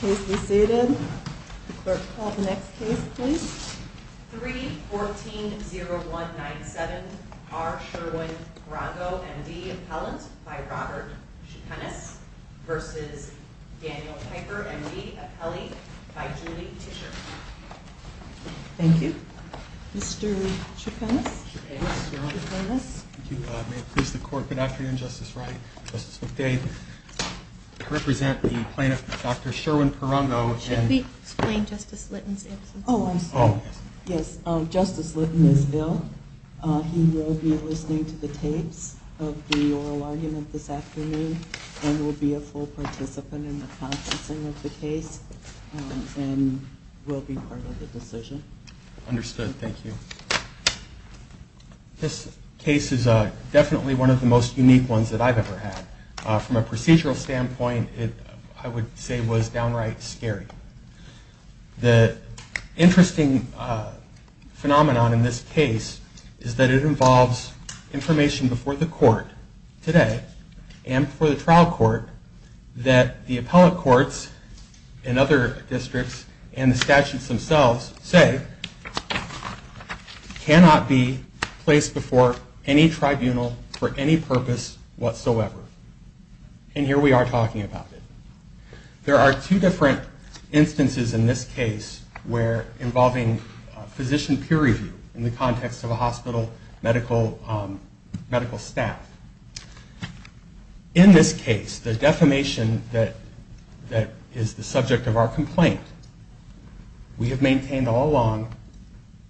Case receded. The clerk call the next case please. 3-14-0197 R. Sherwin Prungao M.D. Appellant by Robert Chepenis v. Daniel Piper M.D. Appellate by Julie Tisher. Thank you. Mr. Chepenis. May it please the court, good afternoon Justice Wright, Justice McDade. I represent the plaintiff, Dr. Sherwin Prungao. Should we explain Justice Litton's absence? Oh, I'm sorry. Yes, Justice Litton is ill. He will be listening to the tapes of the oral argument this afternoon and will be a full participant in the processing of the case and will be part of the decision. Understood, thank you. This case is definitely one of the most unique ones that I've ever had. From a procedural standpoint, I would say it was downright scary. The interesting phenomenon in this case is that it involves information before the court today and before the trial court that the appellate courts and other courts today cannot be placed before any tribunal for any purpose whatsoever. And here we are talking about it. There are two different instances in this case where involving physician peer review in the context of a hospital medical staff. In this case, the defamation that is the subject of our complaint we have maintained all along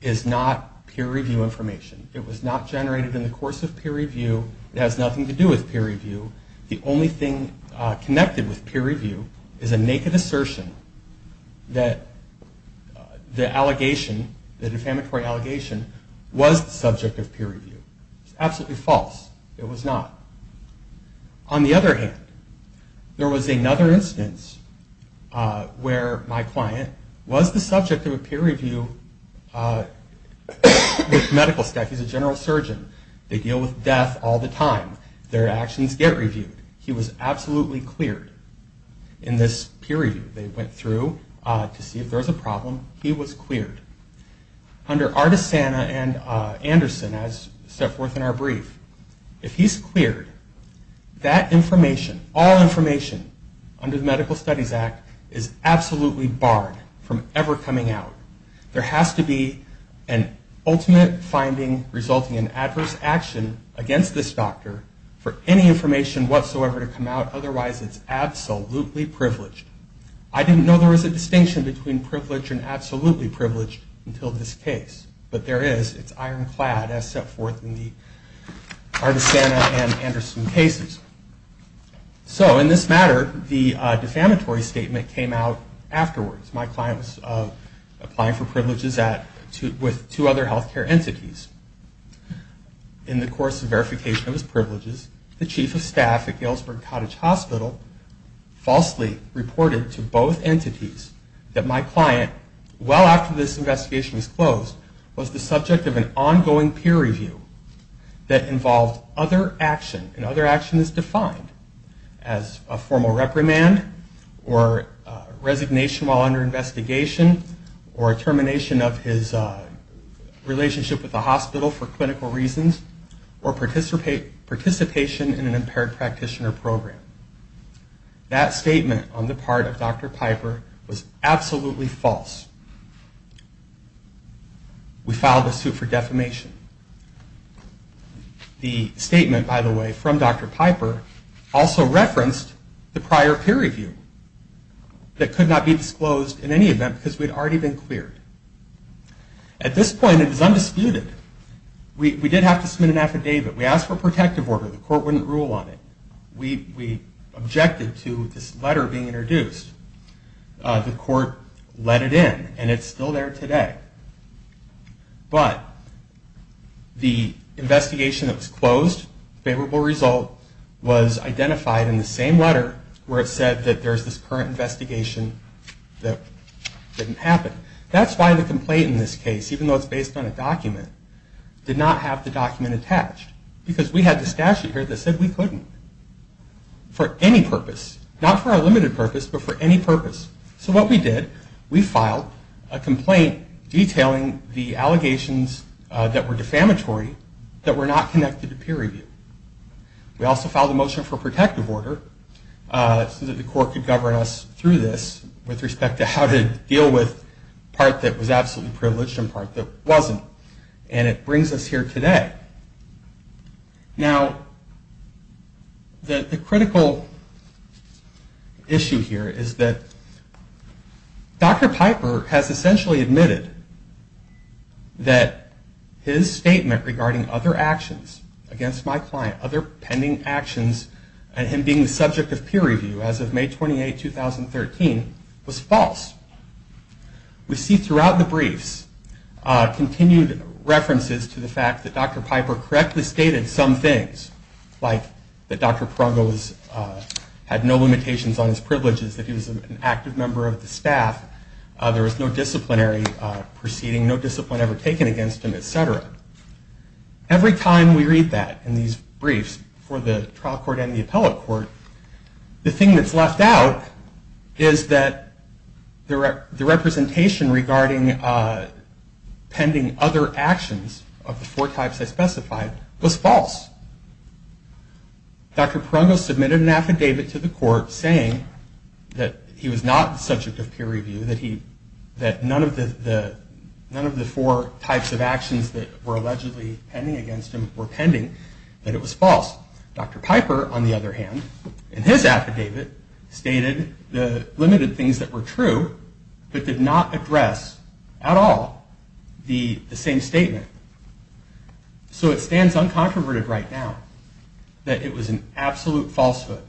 is not peer review information. It was not generated in the course of peer review. It has nothing to do with peer review. The only thing connected with the defamatory allegation was the subject of peer review. It was absolutely false. It was not. On the other hand, there was another instance where my client was the subject of a peer review with medical staff. He's a general surgeon. They deal with death all the time. Their actions get reviewed. He was absolutely cleared in this case. Under Artisana and Anderson, as set forth in our brief, if he's cleared, that information, all information under the Medical Studies Act is absolutely barred from ever coming out. There has to be an ultimate finding resulting in adverse action against this doctor for any information whatsoever to come out. Otherwise, it's absolutely privileged. I didn't know there was a distinction between privileged and absolutely privileged until this case. But there is. It's ironclad as set forth in the Artisana and Anderson cases. So in this matter, the defamatory statement came out afterwards. My client was applying for hospital, falsely reported to both entities that my client, well after this investigation was closed, was the subject of an ongoing peer review that involved other action. And other action is defined as a formal reprimand or resignation while under investigation or termination of his relationship with the That statement on the part of Dr. Piper was absolutely false. We filed a suit for defamation. The statement, by the way, from Dr. Piper also referenced the prior peer review that could not be disclosed in any event because we'd already been cleared. At this point, it was undisputed. We did have to submit an objection to this letter being introduced. The court let it in and it's still there today. But the investigation that was closed, favorable result, was identified in the same letter where it said that there's this current investigation that didn't happen. That's why the complaint in this case, even though it's based on a document, did not have the document attached because we had the statute here that said we couldn't for any purpose. Not for our limited purpose, but for any purpose. So what we did, we filed a complaint detailing the allegations that were defamatory that were not connected to peer review. We also filed a motion for protective order so that the court could govern us through this with respect to how to deal with part that was absolutely privileged and part that wasn't. And it brings us here today. Now, the critical issue here is that Dr. Piper has essentially admitted that his statement regarding other actions against my client, other pending actions, and him being the subject of peer review as of May 28, 2013, was false. We see throughout the briefs continued references to the fact that Dr. Piper correctly stated some things, like that Dr. Prungo had no limitations on his privileges, that he was an active member of the staff, there was no disciplinary proceeding, no discipline ever taken against him, etc. Every time we read that in these briefs for the trial court and the appellate court, the thing that's left out is that the representation regarding pending other actions of the four types I specified was false. Dr. Prungo submitted an affidavit to the court saying that he was not the subject of peer review, that none of the four types of actions that were allegedly pending against him were pending, that it was false. Dr. Piper, on the other hand, in his affidavit, stated the limited things that were true, but did not address at all the same statement. So it stands uncontroverted right now that it was an absolute falsehood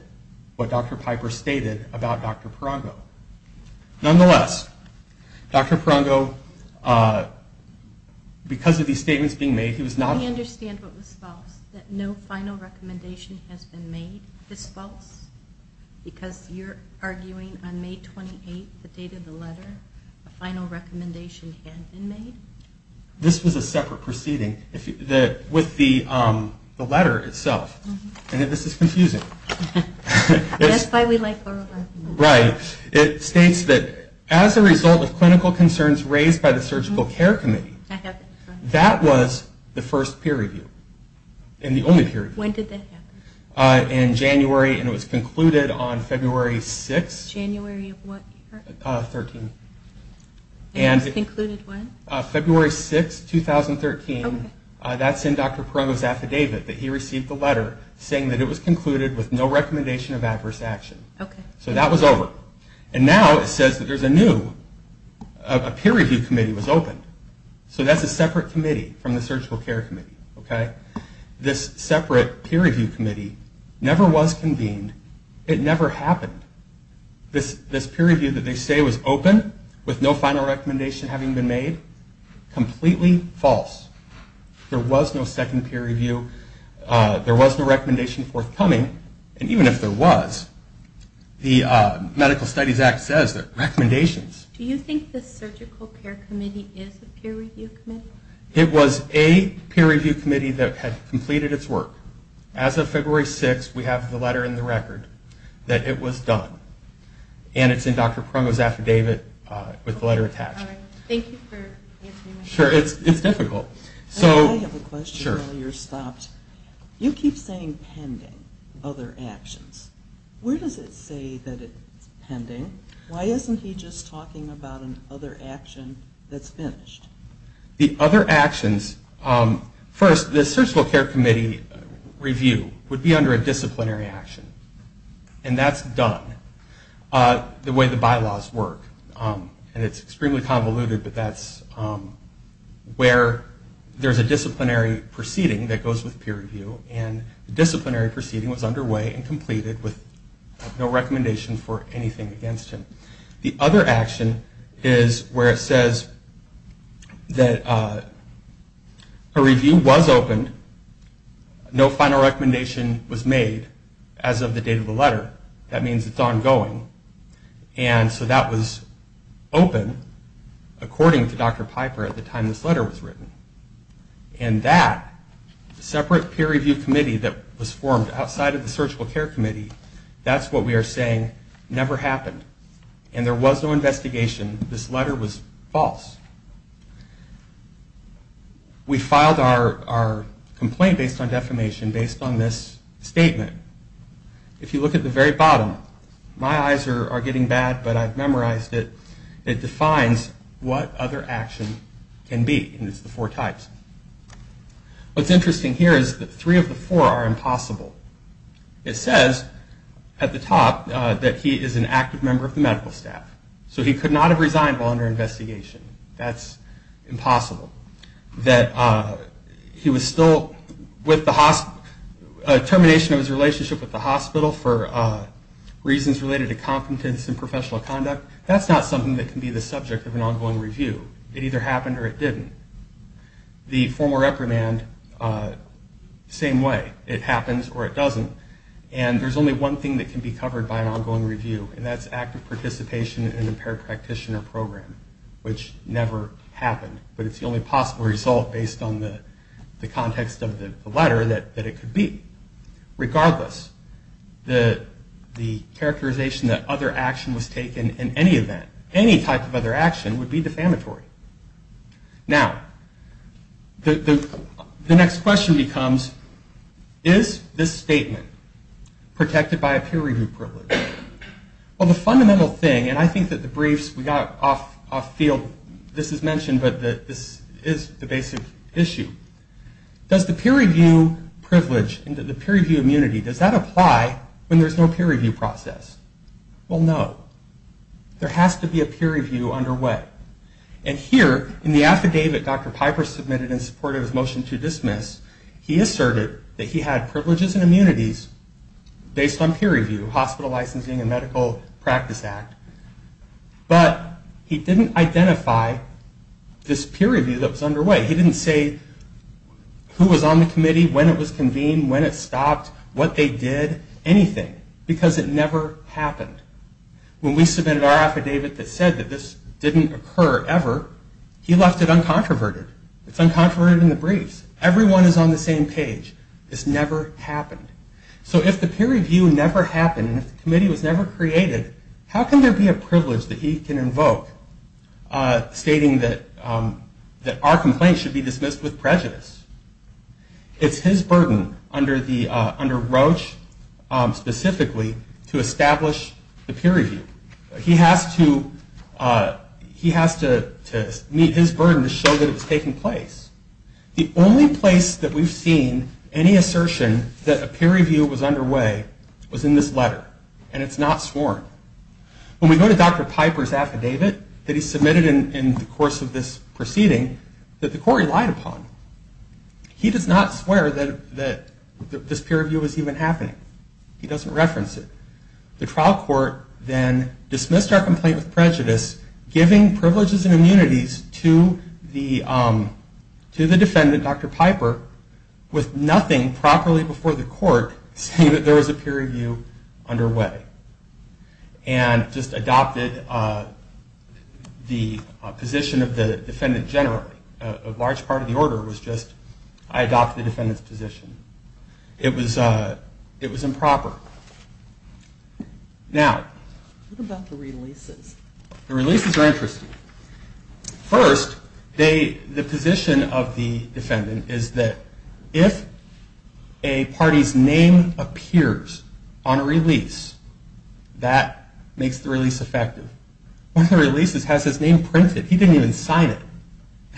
what Dr. Piper stated about Dr. Prungo. Nonetheless, Dr. Prungo, because of these statements being made, he was not... I understand what was false, that no final recommendation has been made is false? Because you're arguing on May 28, the date of the letter, a final That's why we like Borlaug. Right. It states that as a result of clinical concerns raised by the Surgical Care Committee, that was the first peer review. And the only peer review. When did that happen? In January, and it was concluded on February 6. January of what year? 13. And it was concluded when? February 6, 2013. That's in Dr. Prungo's affidavit, that he received the letter saying that it was concluded with no recommendation of adverse action. So that was over. And now it says that there's a new, a peer review committee was opened. So that's a separate committee from the Surgical Care Committee. This separate peer review committee never was convened. It never happened. This peer review that they say was open, with no final recommendation having been made, completely false. There was no second peer review. There was no recommendation forthcoming. And even if there was, the Medical Studies Act says that recommendations... Do you think the Surgical Care Committee is a peer review committee? It was a peer review committee that had completed its work. As of February 6, we have the letter in the record that it was done. And it's in Dr. Prungo's affidavit with the letter attached. I have a question while you're stopped. You keep saying pending other actions. Where does it say that it's pending? Why isn't he just talking about an other action that's finished? The other actions... First, the Surgical Care Committee review would be under a disciplinary action. And that's done the way the bylaws work. And it's extremely convoluted, but that's where there's a disciplinary proceeding that goes with peer review. And the disciplinary proceeding was underway and completed with no recommendation for anything against him. The other action is where it says that a review was opened. No final recommendation was made as of the date of the letter. That means it's ongoing. And so that was open according to Dr. Piper at the time this letter was written. And that separate peer review committee that was formed outside of the Surgical Care Committee, that's what we are saying never happened. And there was no investigation. This letter was false. We filed our complaint based on defamation, based on this statement. If you look at the very bottom, my eyes are getting bad, but I've memorized it. It defines what other action can be. And it's the four types. What's interesting here is that three of the four are impossible. It says at the top that he is an active member of the medical staff. So he could not have resigned while under investigation. That's impossible. That he was still with the hospital, termination of his relationship with the hospital for reasons related to competence and professional conduct, that's not something that can be the subject of an ongoing review. It either happened or it didn't. The formal reprimand, same way. It happens or it doesn't. And there's only one thing that can be the active participation in an impaired practitioner program, which never happened. But it's the only possible result based on the context of the letter that it could be. Regardless, the characterization that other action was taken in any event, any type of other action would be defamatory. Now, the next question becomes, is this statement protected by a peer review privilege? Well, the fundamental thing, and I think that the briefs we got off field, this is mentioned, but this is the basic issue. Does the peer review privilege and the peer review immunity, does that apply when it comes to medical practice? And here, in the affidavit Dr. Piper submitted in support of his motion to dismiss, he asserted that he had privileges and immunities based on peer review, hospital licensing and medical practice act. But he didn't identify this peer review that was underway. He didn't say who was on the committee, when it was convened, when it stopped, what they did, anything. Because it never happened. When we submitted our affidavit that said that this didn't occur ever, he left it uncontroverted. It's uncontroverted in the briefs. Everyone is on the same page. This never happened. So if the peer review never happened, and if the committee was never created, how can there be a privilege that he can invoke stating that our complaint should be dismissed with prejudice? It's his burden under Roche, specifically, to establish the peer review. He has to meet his burden to show that it was taking place. The only place that we've seen any assertion that a peer review was underway was in this letter, and it's not sworn. When we go to Dr. Piper's affidavit that he submitted in the course of this proceeding, that the peer review was even happening. He doesn't reference it. The trial court then dismissed our complaint with prejudice, giving privileges and immunities to the defendant, Dr. Piper, with nothing properly before the court saying that there was a peer review underway. And just adopted the position of the defendant generally. A large part of the order was just, I adopted the defendant's position. It was improper. Now... What about the releases? The releases are interesting. First, the position of the defendant is that if a party's name appears on a release, that makes the release effective. One of the releases has his name printed. He didn't even sign it.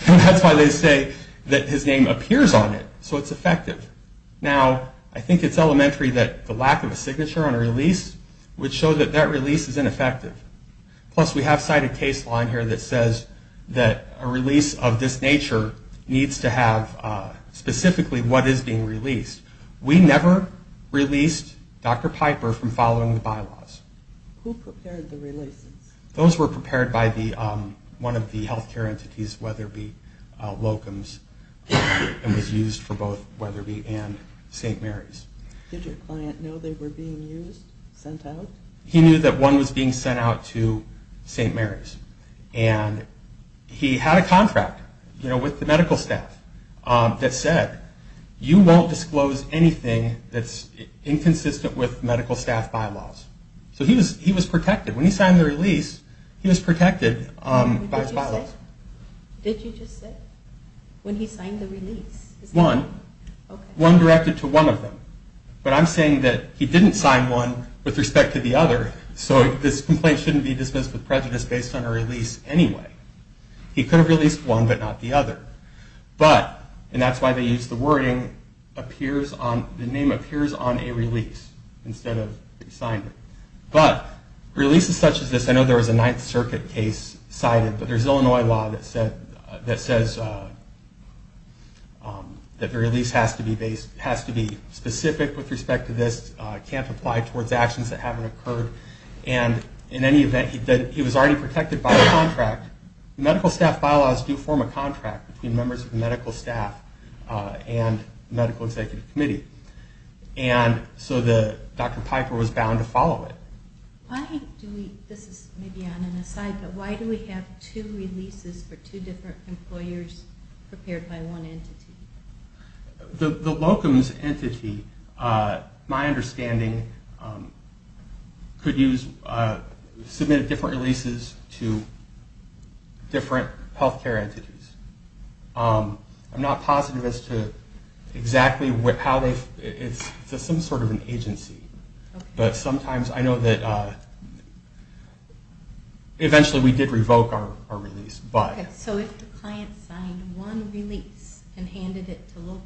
And that's why they say that his name appears on it, so it's effective. Now, I think it's elementary that the lack of a signature on a release would show that that release is ineffective. Plus, we have cited case law in here that says that a release of this nature needs to have specifically what is being released. We never released Dr. Piper from following the bylaws. Who prepared the releases? Those were prepared by one of the health care entities, Weatherby Locums, and was used for both Weatherby and St. Mary's. Did your client know they were being used? Sent out? He knew that one was being sent out to St. Mary's. And he had a contract with the medical staff that said, you won't disclose anything that's So he was protected. When he signed the release, he was protected by his bylaws. Did you just say, when he signed the release? One. One directed to one of them. But I'm saying that he didn't sign one with respect to the other, so this complaint shouldn't be dismissed with prejudice based on a release anyway. He could have released one, but not the other. But, and that's why they use the wording, the name appears on a release, instead of he signed it. But, releases such as this, I know there was a Ninth Circuit case cited, but there's Illinois law that says that the release has to be specific with respect to this, can't apply towards actions that haven't occurred, and in any event, he was already protected by the contract. Medical staff bylaws do form a contract between members of the medical staff and medical executive committee. And so Dr. Piper was bound to follow it. Why do we, this is maybe on an aside, but why do we have two releases for two different employers prepared by one entity? The locum's entity, my understanding, could use, submit different releases to different health care entities. I'm not positive as to exactly how they, it's some sort of an agency. But sometimes I know that eventually we did revoke our release, but. Okay, so if the client signed one release and handed it to locum.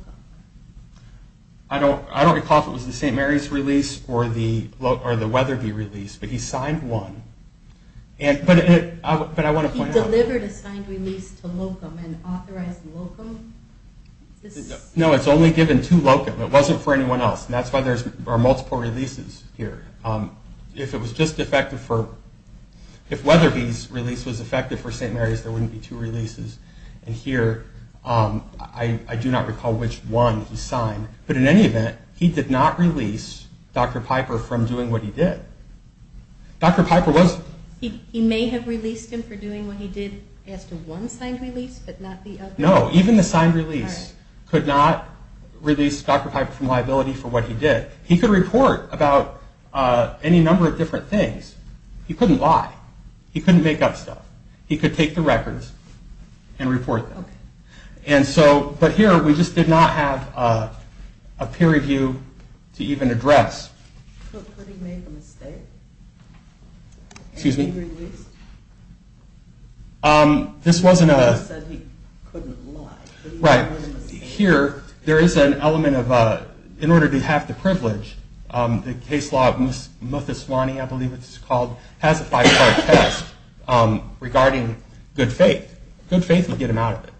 I don't recall if it was the St. Mary's release or the Weatherby release, but he signed one. But I want to point out. He delivered a signed release to locum and authorized locum? No, it's only given to locum. It wasn't for anyone else. And that's why there are multiple releases here. If it was just effective for, if Weatherby's release was effective for St. Mary's, there wouldn't be two releases. And here, I do not recall which one he signed. But in any event, he did not release Dr. Piper from doing what he did. Dr. Piper was. He may have released him for doing what he did as to one signed release, but not the other? No, even the signed release could not release Dr. Piper from liability for what he did. He could report about any number of different things. He couldn't lie. He couldn't make up stuff. He could take the records and report them. And so, but here, we just did not have a peer review to even address. Could he make a mistake? Excuse me? Any release? This wasn't a... He said he couldn't lie. Right. Here, there is an element of, in order to have the privilege, the case law of Muthuswani, I believe it's called, has a five-part test regarding good faith. Good faith would get him out of it.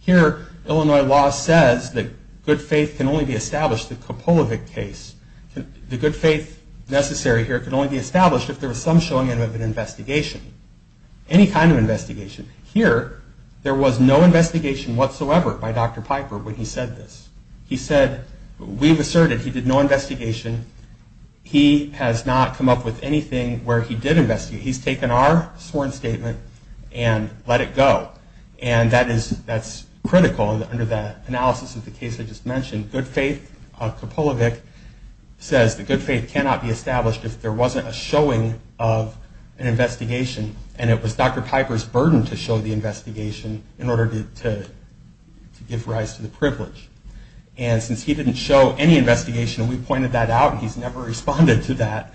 Here, Illinois law says that good faith can only be established, the Kopolevic case. The good faith necessary here can only be established if there was some showing of an investigation. Any kind of investigation. Here, there was no investigation whatsoever by Dr. Piper when he said this. He said, we've asserted he did no investigation. He has not come up with anything where he did investigate. He's taken our sworn statement and let it go. And that's critical under the analysis of the case I just mentioned. Good faith, Kopolevic, says that good faith cannot be established if there wasn't a showing of an investigation. And it was Dr. Piper's burden to show the investigation in order to give rise to the privilege. And since he didn't show any investigation, and we pointed that out, and he's never responded to that,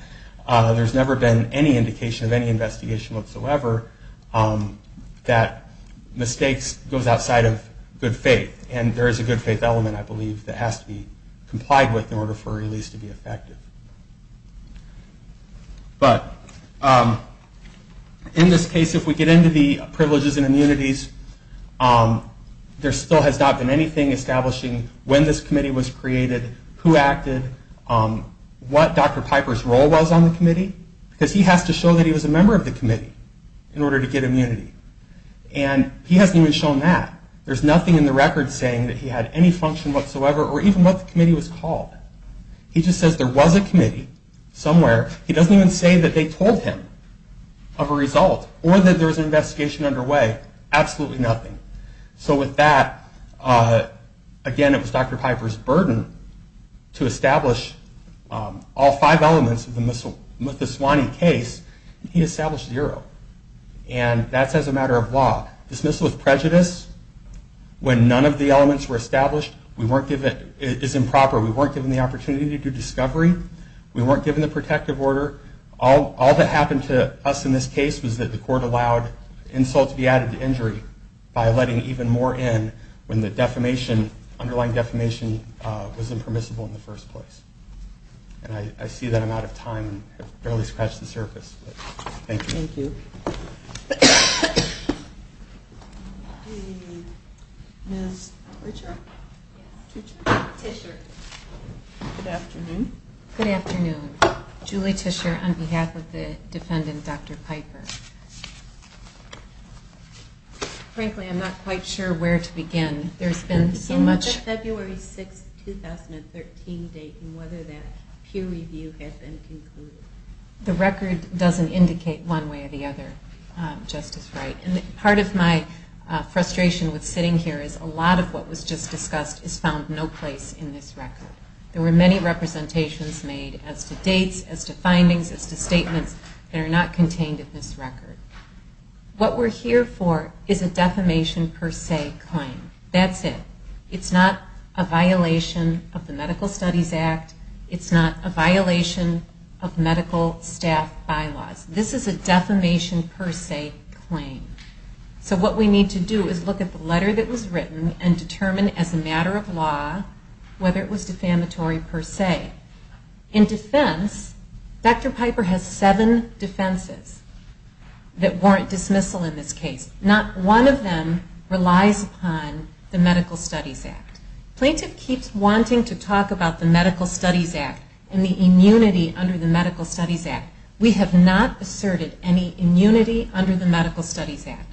there's never been any indication of any investigation whatsoever that mistakes goes outside of good faith. And there is a good faith element, I believe, that has to be complied with in order for a release to be effective. But in this case, if we get into the privileges and immunities, there still has not been anything establishing when this committee was created, who acted, what Dr. Piper's role was on the committee. Because he has to show that he was a member of the committee in order to get immunity. And he hasn't even shown that. There's nothing in the record saying that he had any function whatsoever or even what the committee was called. He just says there was a committee somewhere. He doesn't even say that they told him of a result or that there was an investigation underway. Absolutely nothing. So with that, again, it was Dr. Piper's burden to establish all five elements of the Muthuswani case. He established zero. And that's as a matter of law. Dismissal of prejudice, when none of the elements were established, is improper. We weren't given the opportunity to do discovery. We weren't given the protective order. All that happened to us in this case was that the court allowed insults to be added to injury by letting even more in when the underlying defamation was impermissible in the first place. And I see that I'm out of time. I've barely scratched the surface. Thank you. Ms. Tischer? Yes. Tischer. Good afternoon. Good afternoon. Julie Tischer on behalf of the defendant, Dr. Piper. Frankly, I'm not quite sure where to begin. There's been so much. Can you give me the February 6, 2013 date and whether that peer review has been concluded? The record doesn't indicate one date. One way or the other, Justice Wright. And part of my frustration with sitting here is a lot of what was just discussed is found no place in this record. There were many representations made as to dates, as to findings, as to statements that are not contained in this record. What we're here for is a defamation per se claim. That's it. It's not a violation of the Medical Studies Act. It's not a violation of medical staff bylaws. This is a defamation per se claim. So what we need to do is look at the letter that was written and determine as a matter of law whether it was defamatory per se. In defense, Dr. Piper has seven defenses that warrant dismissal in this case. Not one of them relies upon the Medical Studies Act. Plaintiff keeps wanting to talk about the Medical Studies Act and the immunity under the Medical Studies Act. We have not asserted any immunity under the Medical Studies Act.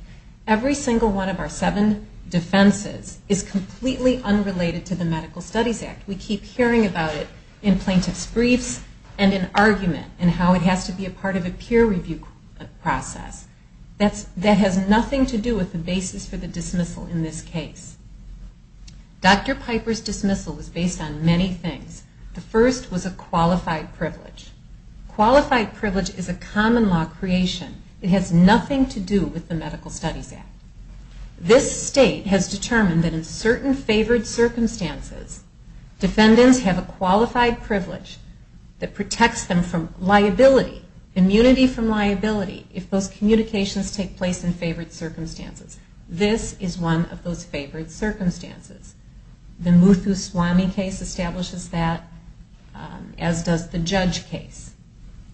Every single one of our seven defenses is completely unrelated to the Medical Studies Act. We keep hearing about it in plaintiff's briefs and in argument and how it has to be a part of a peer review process. That has nothing to do with the basis for the dismissal in this case. Dr. Piper's dismissal was based on many things. The first was a qualified privilege. Qualified privilege is a common law creation. It has nothing to do with the Medical Studies Act. This state has determined that in certain favored circumstances, defendants have a qualified privilege that protects them from liability, immunity from liability, if those communications take place in favored circumstances. This is one of those favored circumstances. The Muthuswamy case establishes that, as does the Judge case.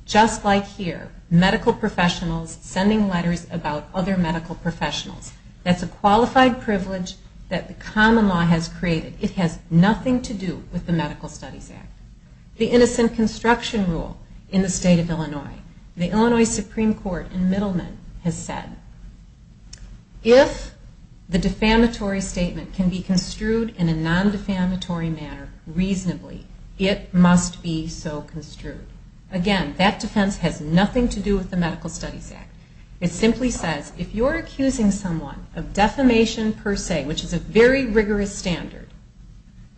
Just like here, medical professionals sending letters about other medical professionals. That's a qualified privilege that the common law has created. It has nothing to do with the Medical Studies Act. The innocent construction rule in the state of Illinois. The Illinois Supreme Court in Middleman has said, if the defamatory statement can be construed in a non-defamatory manner reasonably, it must be so construed. Again, that defense has nothing to do with the Medical Studies Act. It simply says, if you're accusing someone of defamation per se, which is a very rigorous standard,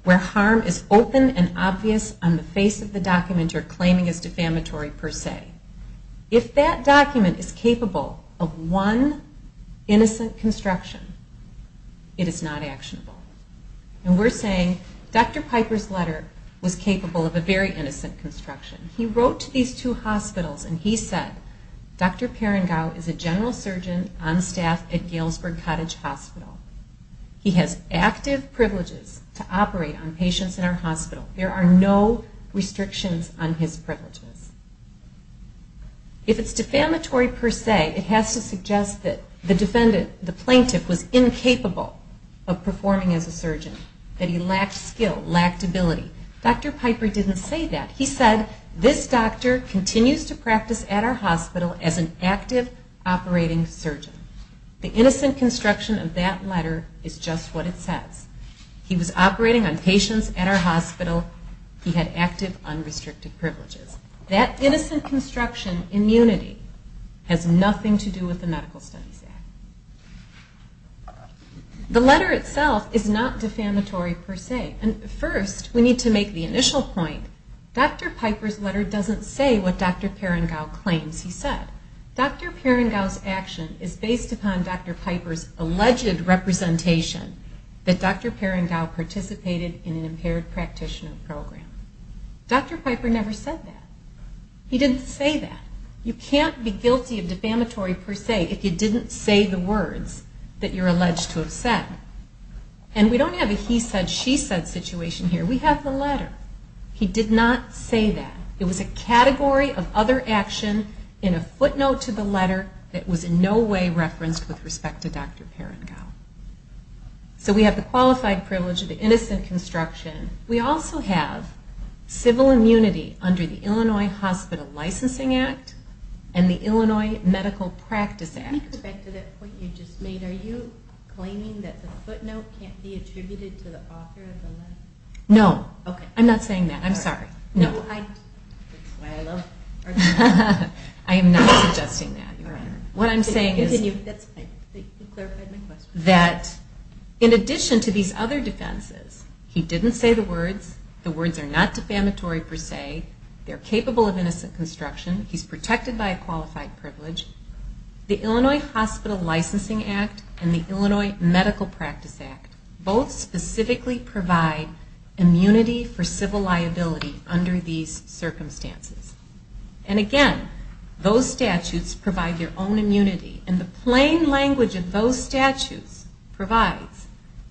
where harm is open and obvious on the face of the document you're claiming is defamatory per se, if that document is capable of one innocent construction, it is not actionable. And we're saying Dr. Piper's letter was capable of a very innocent construction. He wrote to these two hospitals and he said, Dr. Perengau is a general surgeon on staff at Galesburg Cottage Hospital. He has active privileges to operate on patients in our hospital. There are no restrictions on his privileges. If it's defamatory per se, it has to suggest that the defendant, the plaintiff, was incapable of performing as a surgeon, that he lacked skill, lacked ability. Dr. Piper didn't say that. He said, this doctor continues to practice at our hospital as an active operating surgeon. The innocent construction of that letter is just what it says. He was operating on patients at our hospital. He had active, unrestricted privileges. That innocent construction immunity has nothing to do with the Medical Studies Act. The letter itself is not defamatory per se. First, we need to make the initial point. Dr. Piper's letter doesn't say what Dr. Perengau claims he said. Dr. Perengau's action is based upon Dr. Piper's alleged representation that Dr. Perengau participated in an impaired practitioner program. Dr. Piper never said that. He didn't say that. You can't be guilty of defamatory per se if you didn't say the words that you're alleged to have said. And we don't have a he said, she said situation here. We have the letter. He did not say that. It was a category of other action in a footnote to the letter that was in no way referenced with respect to Dr. Perengau. So we have the qualified privilege of the innocent construction. We also have civil immunity under the Illinois Hospital Licensing Act and the Illinois Medical Practice Act. Can you go back to that point you just made? Are you claiming that the footnote can't be attributed to the author of the letter? No. I'm not saying that. I'm sorry. That's why I love arguing. I am not suggesting that, Your Honor. What I'm saying is that in addition to these other defenses, he didn't say the words, the words are not defamatory per se, they're capable of innocent construction, he's protected by a qualified privilege, the Illinois Hospital Licensing Act and the Illinois Medical Practice Act both specifically provide immunity for civil liability under these circumstances. And again, those statutes provide their own immunity. And the plain language of those statutes provides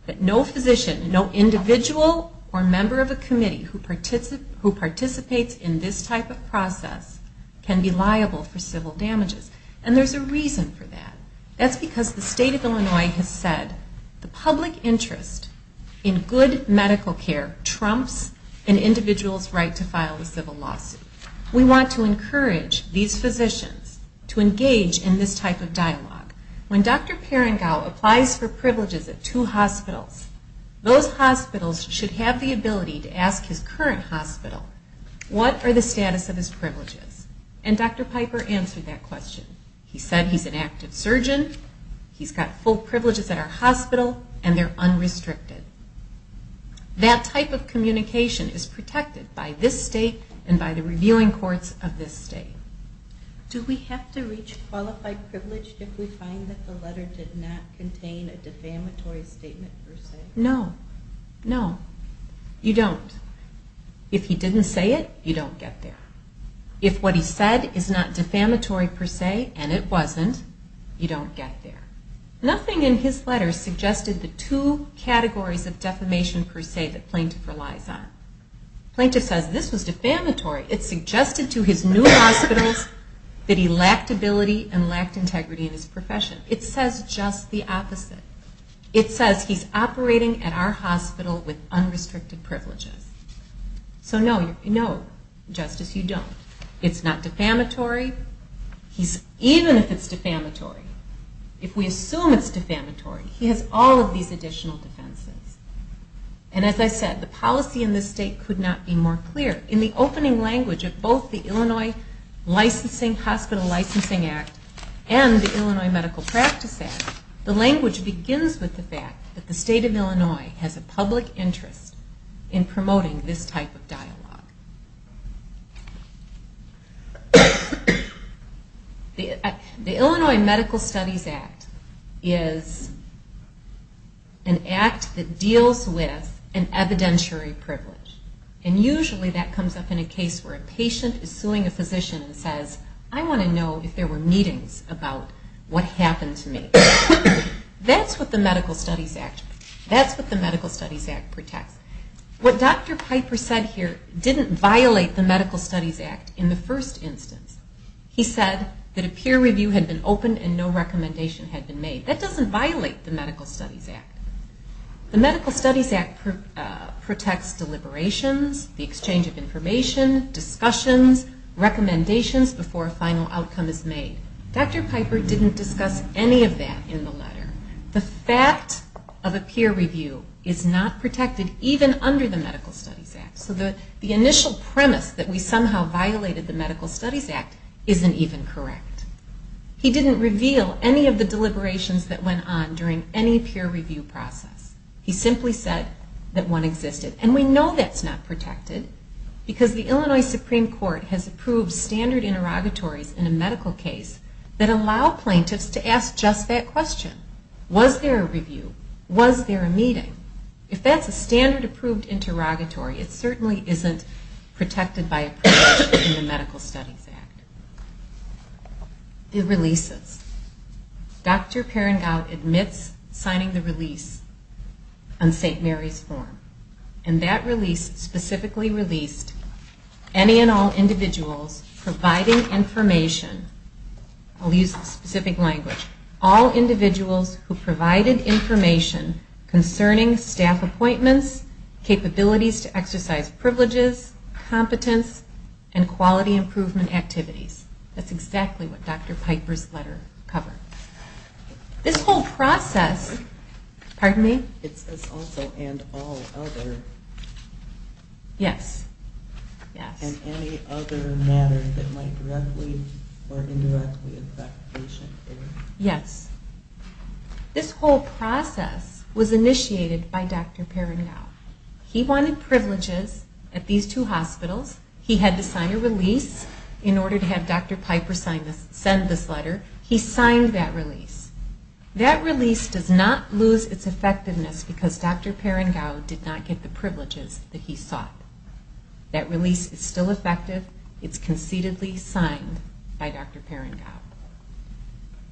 that no physician, no individual or member of a committee who participates in this type of process can be liable for civil damages. And there's a reason for that. That's because the state of Illinois has said the public interest in good medical care trumps an individual's right to file a civil lawsuit. We want to encourage these physicians to engage in this type of dialogue. When Dr. Perengau applies for privileges at two hospitals, those hospitals should have the ability to ask his current hospital, what are the status of his privileges? And Dr. Piper answered that question. He said he's an active surgeon, he's got full privileges at our hospital, and they're unrestricted. That type of communication is protected by this state and by the reviewing courts of this state. Do we have to reach qualified privilege if we find that the letter did not contain a defamatory statement per se? No. No. You don't. If he didn't say it, you don't get there. If what he said is not defamatory per se, and it wasn't, you don't get there. Nothing in his letter suggested the two categories of defamation per se that Plaintiff relies on. Plaintiff says this was defamatory. It suggested to his new hospitals that he lacked ability and lacked integrity in his profession. It says just the opposite. It says he's operating at our hospital with unrestricted privileges. So no, Justice, you don't. It's not defamatory. Even if it's defamatory, if we assume it's defamatory, he has all of these additional defenses. And as I said, the policy in this state could not be more clear. In the opening language of both the Illinois Hospital Licensing Act and the Illinois Medical Practice Act, the language begins with the fact that the state of Illinois has a public interest in promoting this type of dialogue. The Illinois Medical Studies Act is an act that deals with an evidentiary privilege. And usually that comes up in a case where a patient is suing a physician and says, I want to know if there were meetings about what happened to me. That's what the Medical Studies Act protects. What Dr. Piper said here didn't violate the Medical Studies Act in the first instance. He said that a peer review had been opened and no recommendation had been made. That doesn't violate the Medical Studies Act. The Medical Studies Act protects deliberations, the exchange of information, discussions, recommendations before a final outcome is made. Dr. Piper didn't discuss any of that in the letter. The fact of a peer review is not protected even under the Medical Studies Act. So the initial premise that we somehow violated the Medical Studies Act isn't even correct. He didn't reveal any of the deliberations that went on during any peer review process. He simply said that one existed. And we know that's not protected because the Illinois Supreme Court has approved standard interrogatories in a medical case that allow plaintiffs to ask just that question. Was there a review? Was there a meeting? If that's a standard approved interrogatory, it certainly isn't protected by a provision in the Medical Studies Act. The releases. Dr. Perengau admits signing the release on St. Mary's form. And that release specifically released any and all individuals providing information. I'll use a specific language. All individuals who provided information concerning staff appointments, capabilities to exercise privileges, competence, and quality improvement activities. That's exactly what Dr. Piper's letter covered. This whole process... Pardon me? It says also and all other. Yes. And any other matters that might directly or indirectly affect patients. Yes. This whole process was initiated by Dr. Perengau. He wanted privileges at these two hospitals. He had to sign a release in order to have Dr. Piper send this letter. He signed that release. That release does not lose its effectiveness because Dr. Perengau did not get the privileges that he sought. That release is still effective. It's concededly signed by Dr. Perengau.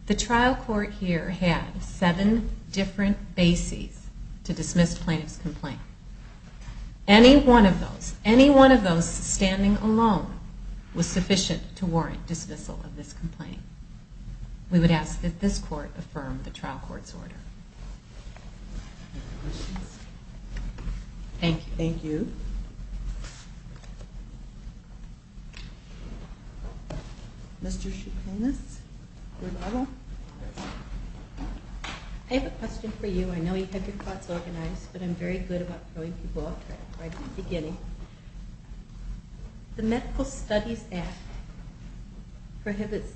The trial court here had seven different bases to dismiss plaintiff's complaint. Any one of those, any one of those standing alone, was sufficient to warrant dismissal of this complaint. We would ask that this court affirm the trial court's order. Any other questions? Thank you. Thank you. Mr. Chapinis? I have a question for you. I know you have your thoughts organized, but I'm very good about throwing people off track right at the beginning. The Medical Studies Act prohibits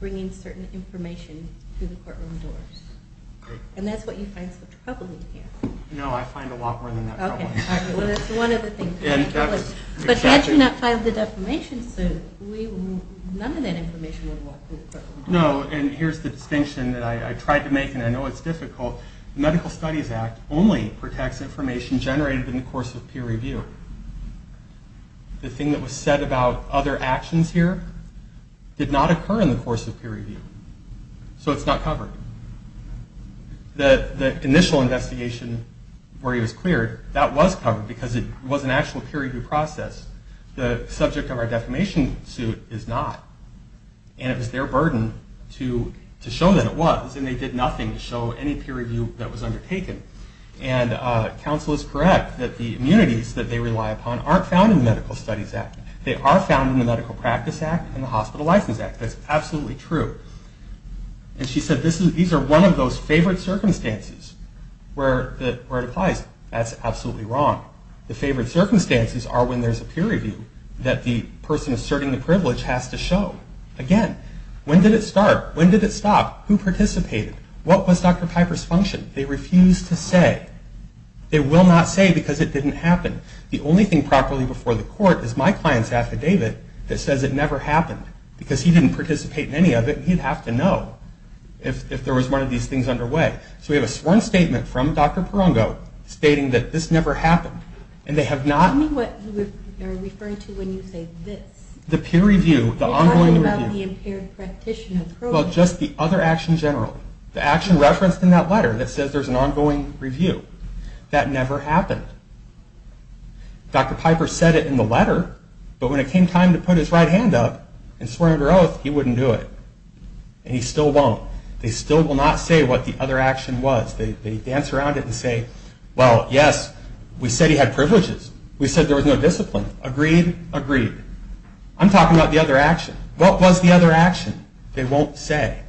bringing certain information through the courtroom doors, and that's what you find so troubling here. No, I find a lot more than that troubling. Okay. Well, that's one of the things. But had you not filed the defamation suit, none of that information would walk through the courtroom doors. No, and here's the distinction that I tried to make, and I know it's difficult. The Medical Studies Act only protects information generated in the course of peer review. The thing that was said about other actions here did not occur in the course of peer review, so it's not covered. The initial investigation where he was cleared, that was covered because it was an actual peer review process. The subject of our defamation suit is not, and it was their burden to show that it was, and they did nothing to show any peer review that was undertaken. And counsel is correct that the immunities that they rely upon aren't found in the Medical Studies Act. They are found in the Medical Practice Act and the Hospital License Act. That's absolutely true. And she said these are one of those favored circumstances where it applies. That's absolutely wrong. The favored circumstances are when there's a peer review that the person asserting the privilege has to show. Again, when did it start? When did it stop? Who participated? What was Dr. Piper's function? They refused to say. They will not say because it didn't happen. The only thing properly before the court is my client's affidavit that says it never happened, because he didn't participate in any of it, and he'd have to know if there was one of these things underway. So we have a sworn statement from Dr. Perongo stating that this never happened, and they have not... Tell me what you are referring to when you say this. The peer review, the ongoing review. You're talking about the impaired practitioner program. Well, just the other action general. The action referenced in that letter that says there's an ongoing review. That never happened. Dr. Piper said it in the letter, but when it came time to put his right hand up and swear under oath, he wouldn't do it, and he still won't. They still will not say what the other action was. They dance around it and say, well, yes, we said he had privileges. We said there was no discipline. Agreed? Agreed. I'm talking about the other action. What was the other action? They won't say.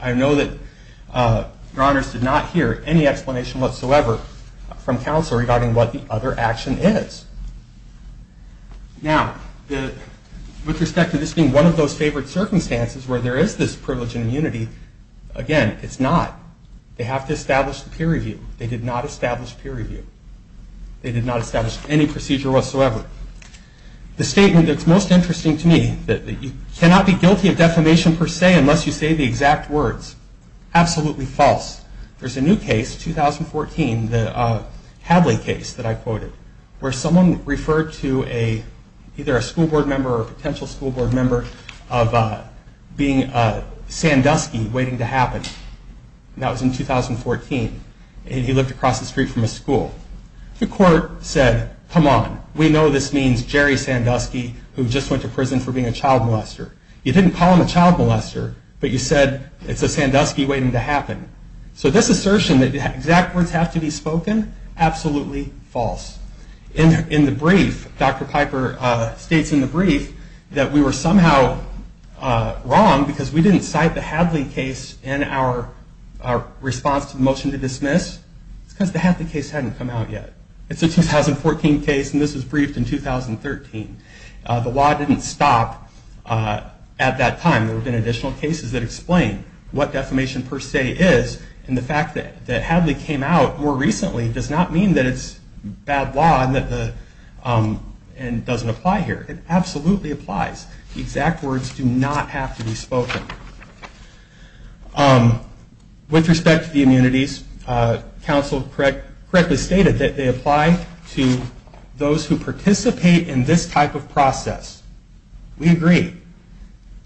I know that your honors did not hear any explanation whatsoever from counsel regarding what the other action is. Now, with respect to this being one of those favored circumstances where there is this privilege and immunity, again, it's not. They have to establish the peer review. They did not establish peer review. They did not establish any procedure whatsoever. The statement that's most interesting to me, that you cannot be guilty of defamation per se unless you say the exact words, absolutely false. There's a new case, 2014, the Hadley case that I quoted, where someone referred to either a school board member or a potential school board member of being a Sandusky waiting to happen. That was in 2014. He lived across the street from a school. The court said, come on. We know this means Jerry Sandusky, who just went to prison for being a child molester. You didn't call him a child molester, but you said it's a Sandusky waiting to happen. So this assertion that exact words have to be spoken, absolutely false. In the brief, Dr. Piper states in the brief that we were somehow wrong because we didn't cite the Hadley case in our response to the motion to dismiss. It's because the Hadley case hadn't come out yet. It's a 2014 case, and this was briefed in 2013. The law didn't stop at that time. There have been additional cases that explain what defamation per se is, and the fact that Hadley came out more recently does not mean that it's bad law and doesn't apply here. It absolutely applies. Exact words do not have to be spoken. With respect to the immunities, counsel correctly stated that they apply to those who participate in this type of process. We agree.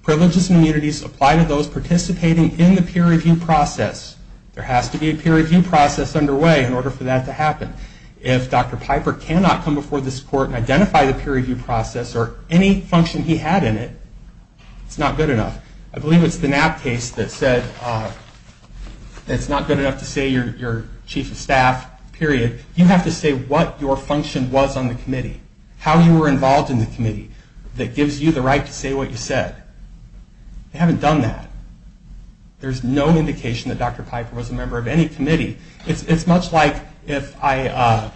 Privileges and immunities apply to those participating in the peer review process. There has to be a peer review process underway in order for that to happen. If Dr. Piper cannot come before this court and identify the peer review process or any function he had in it, it's not good enough. I believe it's the Knapp case that said that it's not good enough to say you're chief of staff, period. You have to say what your function was on the committee, how you were involved in the committee that gives you the right to say what you said. They haven't done that. There's no indication that Dr. Piper was a member of any committee. It's much like if I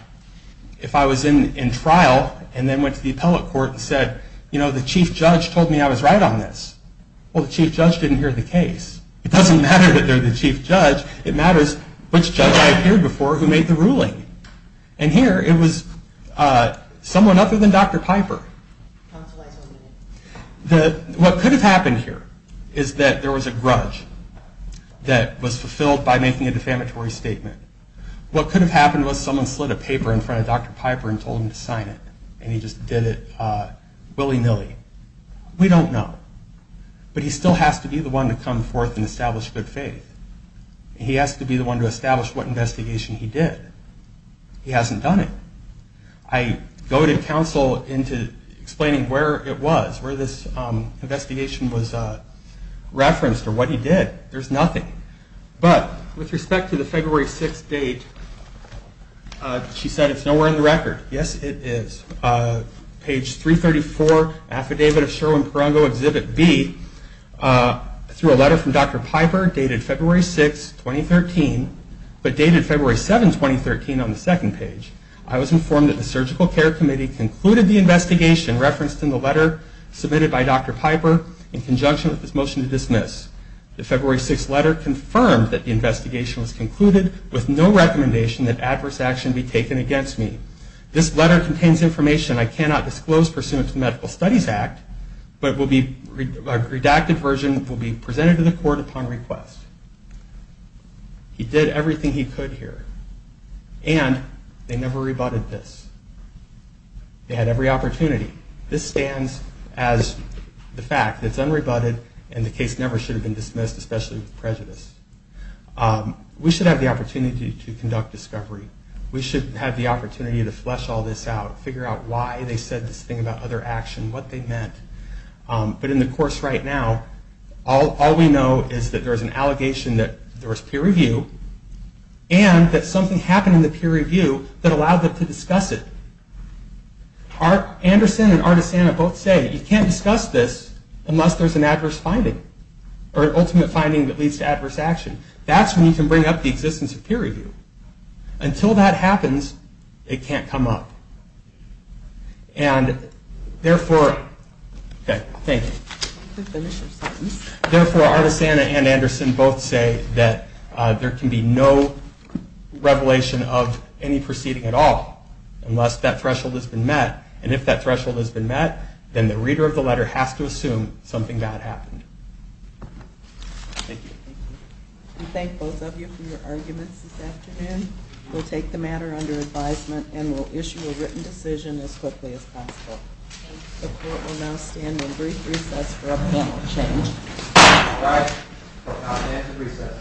was in trial and then went to the appellate court and said, you know, the chief judge told me I was right on this. Well, the chief judge didn't hear the case. It doesn't matter that they're the chief judge. It matters which judge I appeared before who made the ruling. And here it was someone other than Dr. Piper. What could have happened here is that there was a grudge that was fulfilled by making a defamatory statement. What could have happened was someone slid a paper in front of Dr. Piper and told him to sign it. And he just did it willy-nilly. We don't know. But he still has to be the one to come forth and establish good faith. He has to be the one to establish what investigation he did. He hasn't done it. I go to counsel into explaining where it was, where this investigation was referenced or what he did. There's nothing. But with respect to the February 6th date, she said it's nowhere in the record. Yes, it is. Page 334, Affidavit of Sherwin-Perongo, Exhibit B, through a letter from Dr. Piper dated February 6, 2013, but dated February 7, 2013, on the second page. I was informed that the Surgical Care Committee concluded the investigation referenced in the letter submitted by Dr. Piper in conjunction with his motion to dismiss. The February 6th letter confirmed that the investigation was concluded with no recommendation that adverse action be taken against me. This letter contains information I cannot disclose pursuant to the Medical Studies Act, but a redacted version will be presented to the court upon request. He did everything he could here, and they never rebutted this. They had every opportunity. This stands as the fact that it's unrebutted, and the case never should have been dismissed, especially with prejudice. We should have the opportunity to conduct discovery. We should have the opportunity to flesh all this out, figure out why they said this thing about other action, what they meant. But in the course right now, all we know is that there's an allegation that there was peer review, and that something happened in the peer review that allowed them to discuss it. Anderson and Artisana both say you can't discuss this unless there's an adverse finding, or an ultimate finding that leads to adverse action. That's when you can bring up the existence of peer review. Until that happens, it can't come up. Therefore, Artisana and Anderson both say that there can be no revelation of any proceeding at all unless that threshold has been met. And if that threshold has been met, then the reader of the letter has to assume Thank you. We thank both of you for your arguments this afternoon. We'll take the matter under advisement and we'll issue a written decision as quickly as possible. The court will now stand on brief recess for a panel change. All rise for a confidential recess.